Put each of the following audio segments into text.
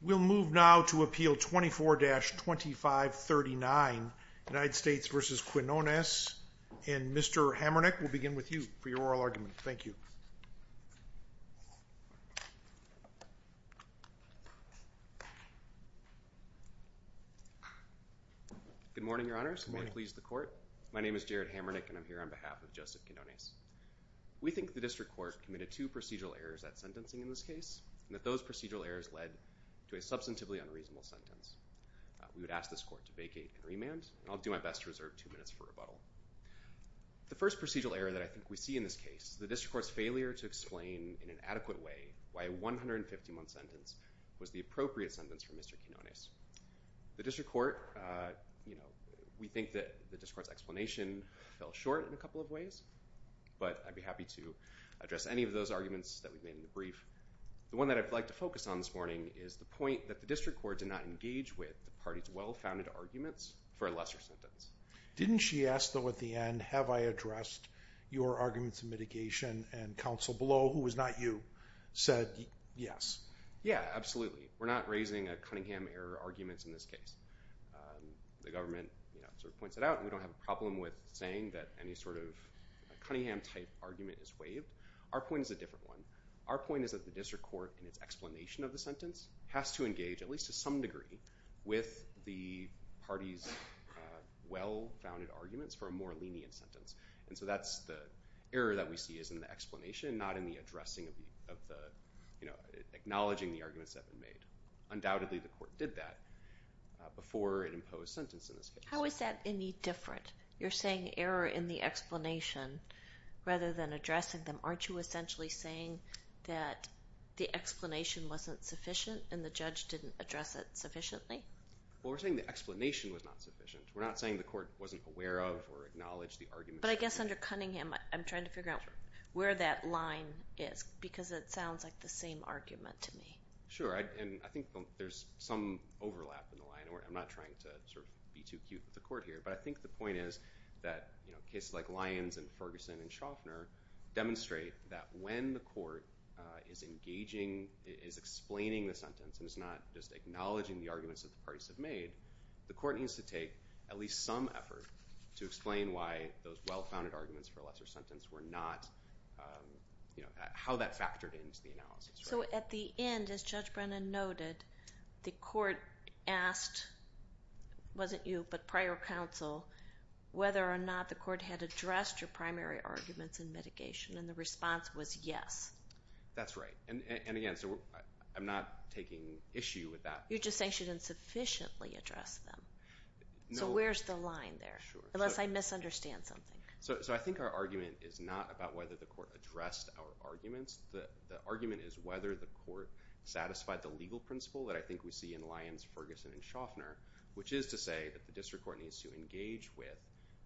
We'll move now to Appeal 24-2539, United States v. Quinones, and Mr. Hamernick, we'll begin with you for your oral argument. Thank you. Good morning, Your Honors. May it please the Court. My name is Jared Hamernick, and I'm here on behalf of Joseph Quinones. We think the District Court committed two procedural errors at sentencing in this case, and that those procedural errors led to a substantively unreasonable sentence. We would ask this Court to vacate and remand, and I'll do my best to reserve two minutes for rebuttal. The first procedural error that I think we see in this case, the District Court's failure to explain in an adequate way why a 150-month sentence was the appropriate sentence for Mr. Quinones. The District Court, you know, we think that the District Court's explanation fell short in a couple of ways, but I'd be happy to address any of those arguments that we've made in the brief. The one that I'd like to focus on this morning is the point that the District Court did not engage with the party's well-founded arguments for a lesser sentence. Didn't she ask, though, at the end, have I addressed your arguments in mitigation, and counsel below, who was not you, said yes? Yeah, absolutely. We're not raising a Cunningham error argument in this case. The government sort of points it out, and we don't have a problem with saying that any sort of Cunningham-type argument is waived. Our point is a different one. Our point is that the District Court, in its explanation of the sentence, has to engage, at least to some degree, with the party's well-founded arguments for a more lenient sentence. And so that's the error that we see is in the explanation, not in the addressing of the, you know, acknowledging the arguments that have been made. Undoubtedly, the court did that before it imposed sentence in this case. How is that any different? You're saying error in the explanation rather than addressing them. Aren't you essentially saying that the explanation wasn't sufficient, and the judge didn't address it sufficiently? Well, we're saying the explanation was not sufficient. We're not saying the court wasn't aware of or acknowledged the arguments. But I guess under Cunningham, I'm trying to figure out where that line is, because it sounds like the same argument to me. Sure, and I think there's some overlap in the line. I'm not trying to sort of be too cute with the court here, but I think the point is that, you know, cases like Lyons and Ferguson and Schaffner demonstrate that when the court is engaging, is explaining the sentence and is not just acknowledging the arguments that the parties have made, the court needs to take at least some effort to explain why those well-founded arguments for a lesser sentence were not, you know, how that factored into the analysis. So at the end, as Judge Brennan noted, the court asked, wasn't you, but prior counsel whether or not the court had addressed your primary arguments in mitigation? And the response was yes. That's right. And again, so I'm not taking issue with that. You're just saying she didn't sufficiently address them. So where's the line there? Unless I misunderstand something. So I think our argument is not about whether the court addressed our arguments. The argument is whether the court satisfied the legal principle that I think we see in Lyons, Ferguson and Schaffner, which is to say that the district court needs to engage with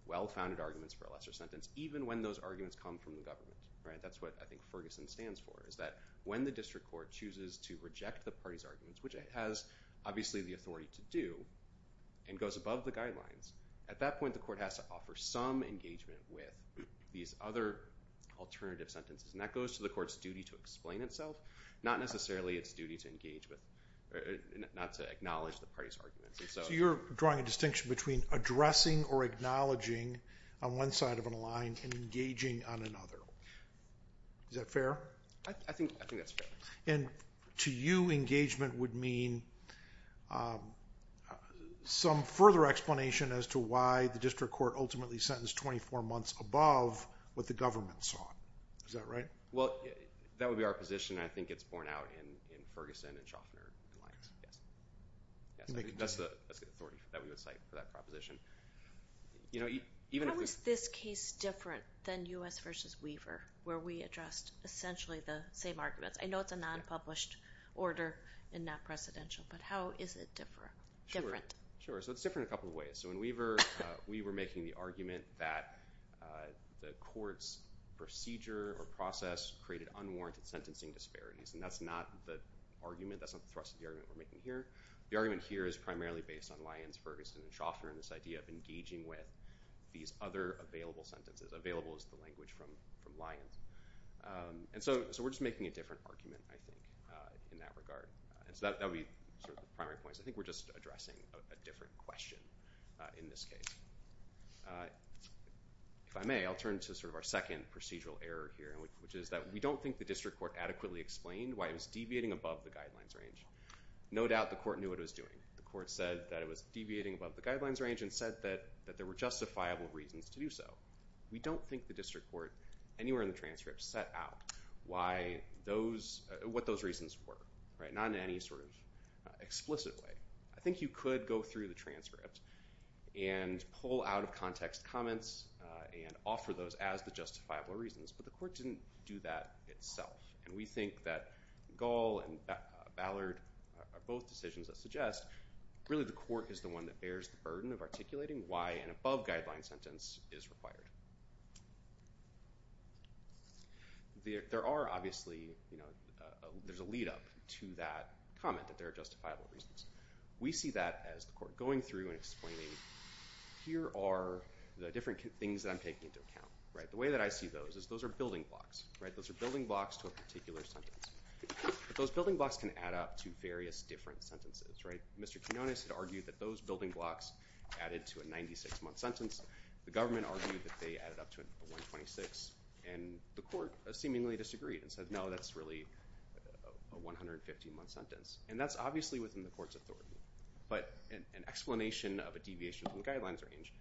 well-founded arguments for a lesser sentence, even when those arguments come from the government, right? That's what I think Ferguson stands for, is that when the district court chooses to reject the party's arguments, which it has obviously the authority to do and goes above the guidelines, at that point the court has to offer some engagement with these other alternative sentences. And that goes to the court's duty to explain itself, not necessarily its duty to engage with the party's arguments. So you're drawing a distinction between addressing or acknowledging on one side of a line and engaging on another. Is that fair? I think that's fair. And to you, engagement would mean some further explanation as to why the district court ultimately sentenced 24 months above what the government sought. Is that right? Well, that would be our position. I think it's borne out in Ferguson and Schaffner in Lyons. Yes. That's the authority that we would cite for that proposition. How is this case different than U.S. versus Weaver, where we addressed essentially the same arguments? I know it's a non-published order and not presidential, but how is it different? Sure. So it's different in a couple of ways. So in Weaver, we were making the argument that the court's procedure or process created unwarranted sentencing disparities. And that's not the argument. That's not the thrust of the argument we're making here. The argument here is primarily based on Lyons, Ferguson, and Schaffner and this idea of engaging with these other available sentences. Available is the language from Lyons. And so we're just making a different argument, I think, in that regard. And so that would be sort of the primary points. I think we're just addressing a different question in this case. If I may, I'll turn to our second procedural error here, which is that we don't think the district court adequately explained why it was deviating above the guidelines range. No doubt the court knew what it was doing. The court said that it was deviating above the guidelines range and said that there were justifiable reasons to do so. We don't think the district court anywhere in the transcript set out what those reasons were, not in any sort of explicit way. I think you could go through the transcript and pull out of context comments and offer those as the justifiable reasons, but the court didn't do that itself. And we think that Gall and Ballard are both decisions that suggest really the court is the one that bears the burden of articulating why an above-guideline sentence is required. There are, obviously, there's a lead-up to that comment that there are justifiable reasons. We see that as the court going through and explaining, here are the different things that I'm taking into account. The way that I see those is those are building blocks. Those are building blocks to a particular sentence. But those building blocks can add up to various different sentences. Mr. Quinones had argued that those building blocks added to a 96-month sentence. The government argued that they added up to a 126. And the court seemingly disagreed and said, no, that's really a 150-month sentence. And that's obviously within the court's authority. But an explanation of a deviation from the guidelines range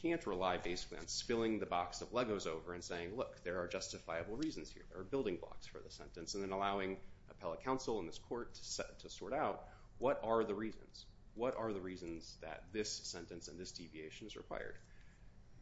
can't rely basically on spilling the box of Legos over and saying, look, there are justifiable reasons here. There are building blocks for the sentence. And then allowing appellate counsel in this court to sort out what are the reasons. What are the reasons that this sentence and this deviation is required?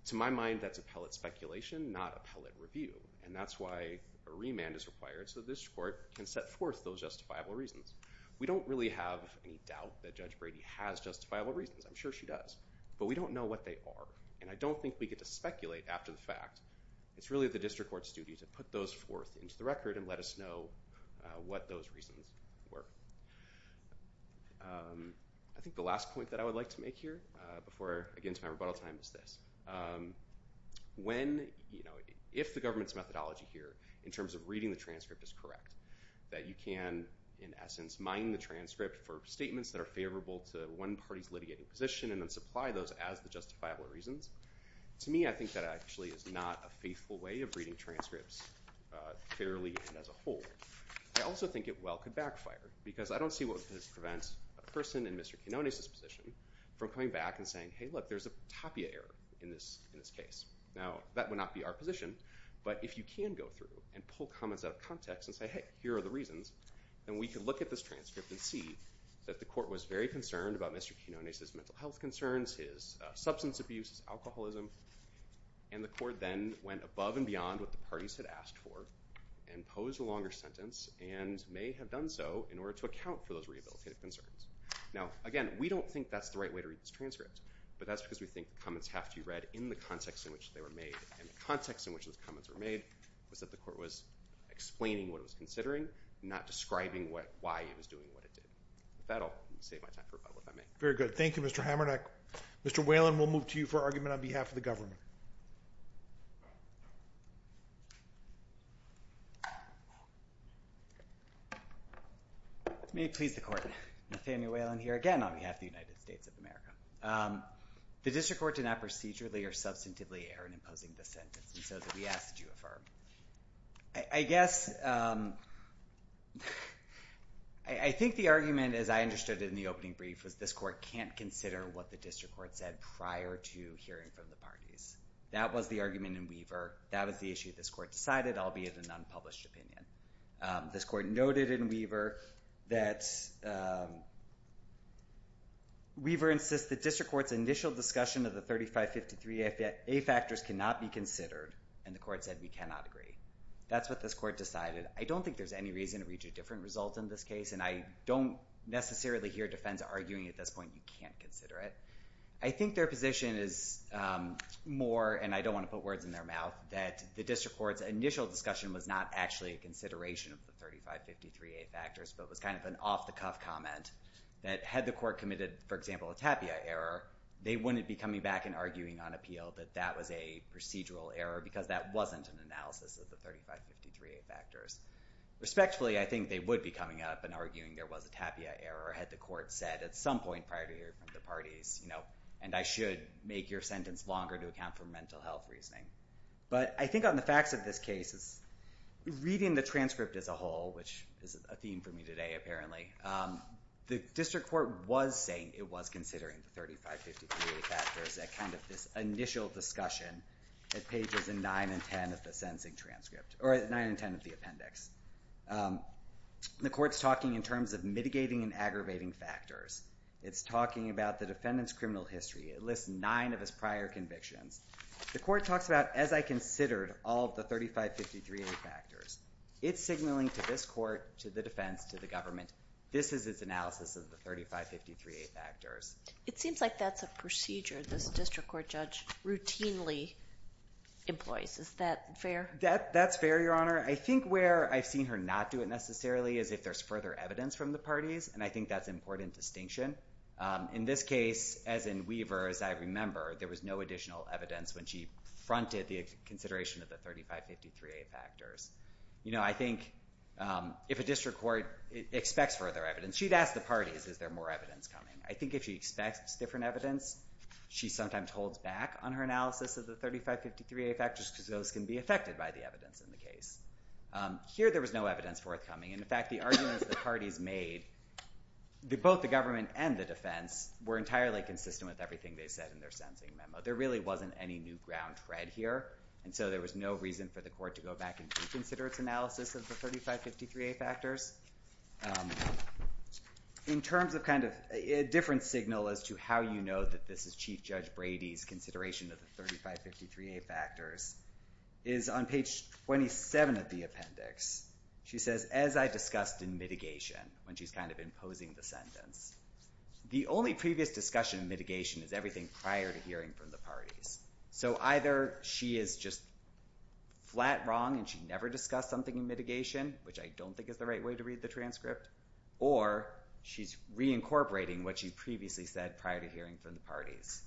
To my mind, that's appellate speculation, not appellate review. And that's why a remand is required so this court can set forth those justifiable reasons. We don't really have any doubt that Judge Brady has justifiable reasons. I'm sure she does. But we don't know what they are. And I don't think we get to speculate after the fact. It's really the district court's duty to put those forth into the record and let us know what those reasons were. I think the last point that I would like to make here before I get into my rebuttal time is this. If the government's methodology here in terms of reading the transcript is correct, that you can, in essence, mine the transcript for statements that are favorable to one party's litigating position and then supply those as the justifiable reasons, to me, I think that actually is not a faithful way of reading transcripts fairly and as a whole. I also think it well could backfire because I don't see what would prevent a person in Mr. Quinonez's position from coming back and saying, hey, look, there's a Tapia error in this case. Now that would not be our position, but if you can go through and pull comments out of context and say, hey, here are the reasons, then we can look at this transcript and see that the court was very concerned about Mr. Quinonez's mental health concerns, his substance abuse, his alcoholism, and the court then went above and beyond what the parties had asked for and posed a longer sentence and may have done so in order to account for those rehabilitative concerns. Now, again, we don't think that's the right way to read this transcript, but that's because we think the comments have to be read in the context in which they were made, and the context in which those comments were made was that the court was explaining what it was considering, not describing why it was doing what it did. With that, I'll save my time for rebuttal, if I may. Very good. Thank you, Mr. Hamernack. Mr. Whalen, we'll move to you for argument on behalf of the government. May it please the Court. I'm Efemi Whalen here, again, on behalf of the United States of America. The district court did not procedurally or substantively err in imposing this sentence, and so did we ask that you affirm. I guess I think the argument, as I understood it in the opening brief, was this court can't consider what the district court said prior to hearing from the parties. That was the argument in Weaver. That was the issue this court decided, albeit an unpublished opinion. This court noted in Weaver that Weaver insists the district court's initial discussion of the 3553A factors cannot be considered, and the court said we cannot agree. That's what this court decided. I don't think there's any reason to reach a different result in this case, and I don't necessarily hear defense arguing at this point that you can't consider it. I think their position is more, and I don't want to put words in their mouth, that the district court's initial discussion was not actually a consideration of the 3553A factors, but was kind of an off-the-cuff comment that had the court committed, for example, a tapia error, they wouldn't be coming back and arguing on appeal that that was a procedural error because that wasn't an analysis of the 3553A factors. Respectfully, I think they would be coming up and arguing there was a tapia error had the court said at some point prior to hearing from the parties, and I should make your sentence longer to account for mental health reasoning. But I think on the facts of this case, reading the transcript as a whole, which is a theme for me today apparently, the district court was saying it was considering the 3553A factors at kind of this initial discussion at pages 9 and 10 of the sentencing transcript, or 9 and 10 of the appendix. The court's talking in terms of mitigating and aggravating factors. It's talking about the defendant's criminal history. It lists nine of his prior convictions. The court talks about, as I considered all of the 3553A factors. It's signaling to this court, to the defense, to the government, this is its analysis of the 3553A factors. It seems like that's a procedure this district court judge routinely employs. Is that fair? That's fair, Your Honor. I think where I've seen her not do it necessarily is if there's further evidence from the parties, and I think that's important distinction. In this case, as in Weaver, as I remember, there was no additional evidence when she fronted the consideration of the 3553A factors. I think if a district court expects further evidence, she'd ask the parties, is there more evidence coming? I think if she expects different evidence, she sometimes holds back on her analysis of the 3553A factors because those can be affected by the evidence in the case. Here, there was no evidence forthcoming. In fact, the arguments the parties made, both the government and the defense, were entirely consistent with everything they said in their sentencing memo. There really wasn't any new ground read here, and so there was no reason for the court to go back and reconsider its analysis of the 3553A factors. In terms of a different signal as to how you know that this is Chief Judge Brady's consideration of the 3553A factors is on page 27 of the appendix. She says, as I discussed in mitigation, when she's kind of imposing the sentence, the only previous discussion in mitigation is everything prior to hearing from the parties. So either she is just flat wrong and she never discussed something in mitigation, which I don't think is the right way to read the transcript, or she's reincorporating what she previously said prior to hearing from the parties,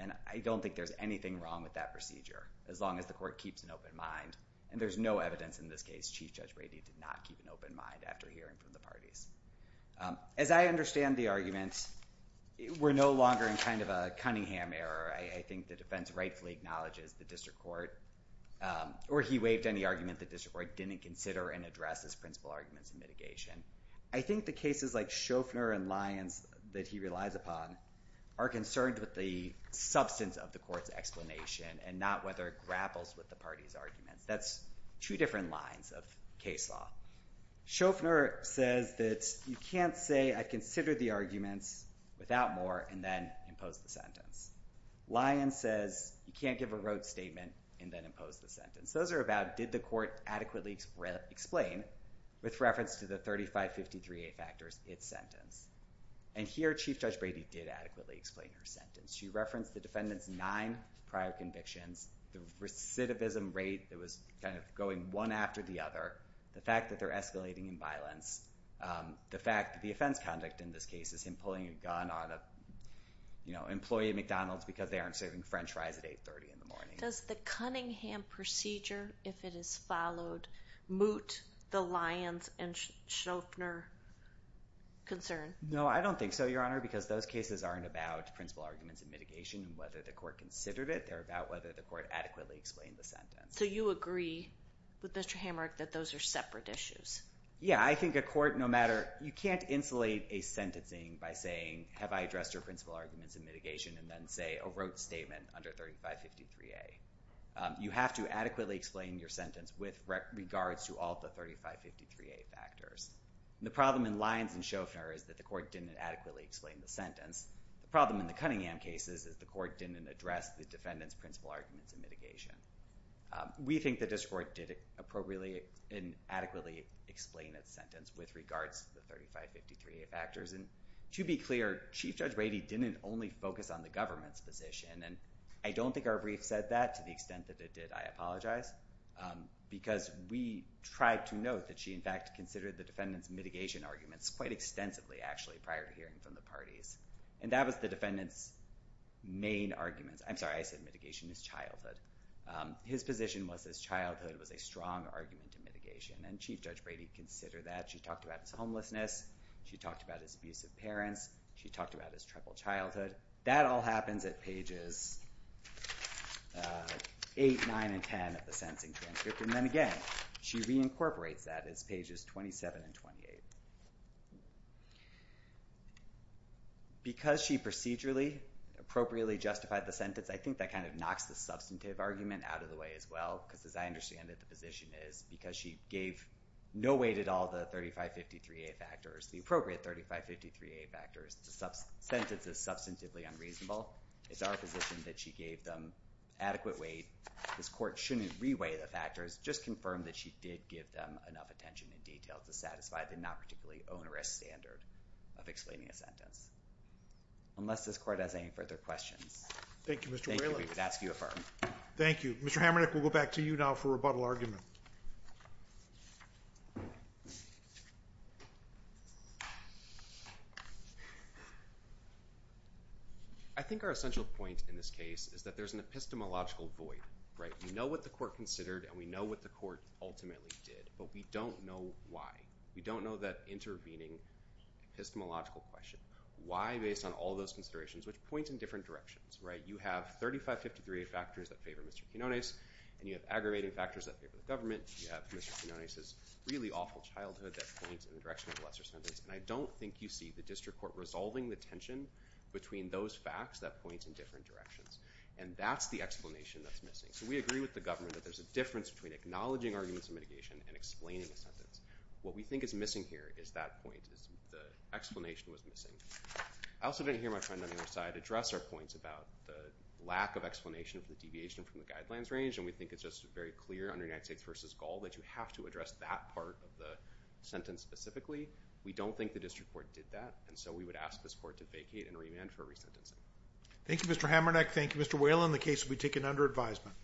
and I don't think there's anything wrong with that procedure as long as the court keeps an open mind. And there's no evidence in this case Chief Judge Brady did not keep an open mind after hearing from the parties. As I understand the arguments, we're no longer in kind of a Cunningham era. I think the defense rightfully acknowledges the district court, or he waived any argument the district court didn't consider and address as principal arguments in mitigation. I think the cases like Shofner and Lyons that he relies upon are concerned with the substance of the court's explanation and not whether it grapples with the party's arguments. That's two different lines of case law. Shofner says that you can't say I considered the arguments without more and then imposed the sentence. Lyons says you can't give a rote statement and then impose the sentence. Those are about did the court adequately explain with reference to the 3553A factors its sentence? And here Chief Judge Brady did adequately explain her sentence. She referenced the defendant's nine prior convictions, the recidivism rate that was kind of going one after the other, the fact that they're escalating in violence, the fact that the offense conduct in this case is him pulling a gun on an employee at McDonald's because they aren't serving French fries at 830 in the morning. Does the Cunningham procedure, if it is followed, moot the Lyons and Shofner concern? No, I don't think so, Your Honor, because those cases aren't about principal arguments in mitigation and whether the court considered it. They're about whether the court adequately explained the sentence. So you agree with Mr. Hamrick that those are separate issues? Yeah, I think a court, no matter, you can't insulate a sentencing by saying have I addressed your principal arguments in mitigation and then say a rote statement under 3553A. You have to adequately explain your sentence with regards to all the 3553A factors. The problem in Lyons and Shofner is that the court didn't adequately explain the sentence. The problem in the Cunningham cases is the court didn't address the defendant's principal arguments in mitigation. We think the district court did appropriately and adequately explain its sentence with regards to the 3553A factors. And to be clear, Chief Judge Brady didn't only focus on the government's position, and I don't think our brief said that to the extent that it did. I apologize. Because we tried to note that she, in fact, considered the defendant's mitigation arguments quite extensively, actually, prior to hearing from the parties. And that was the defendant's main argument. I'm sorry, I said mitigation as childhood. His position was that childhood was a strong argument in mitigation, and Chief Judge Brady considered that. She talked about his homelessness. She talked about his abusive parents. She talked about his troubled childhood. That all happens at pages 8, 9, and 10 of the sentencing transcript. And then again, she reincorporates that as pages 27 and 28. Because she procedurally, appropriately justified the sentence, I think that kind of knocks the substantive argument out of the way as well, because as I understand it, the position is because she gave no weight at all to the 3553A factors, the appropriate 3553A factors, the sentence is substantively unreasonable. It's our position that she gave them adequate weight. This Court shouldn't re-weigh the factors. Just confirm that she did give them enough attention and detail to satisfy the not particularly onerous standard of explaining a sentence. Unless this Court has any further questions. Thank you, Mr. Whalen. Thank you. We would ask you to affirm. Thank you. Mr. Hamernick, we'll go back to you now for rebuttal argument. I think our essential point in this case is that there's an epistemological void. We know what the Court considered and we know what the Court ultimately did, but we don't know why. We don't know that intervening epistemological question. Why, based on all those considerations, which point in different directions. You have 3553A factors that favor Mr. Quinonez and you have aggravating factors that favor the government. You have Mr. Quinonez's really awful childhood that points in the direction of a lesser sentence. And I don't think you see the District Court resolving the tension between those facts that point in different directions. And that's the explanation that's missing. So we agree with the government that there's a difference between acknowledging arguments of mitigation and explaining a sentence. What we think is missing here is that point, is the explanation was missing. I also didn't hear my friend on the other side address our points about the lack of explanation for the deviation from the guidelines range. And we think it's just very clear under United States v. Gall that you have to address that part of the sentence specifically. We don't think the District Court did that. And so we would ask this Court to vacate and remand for resentencing. Thank you, Mr. Hamernick. Thank you, Mr. Whalen. The case will be taken under advisement.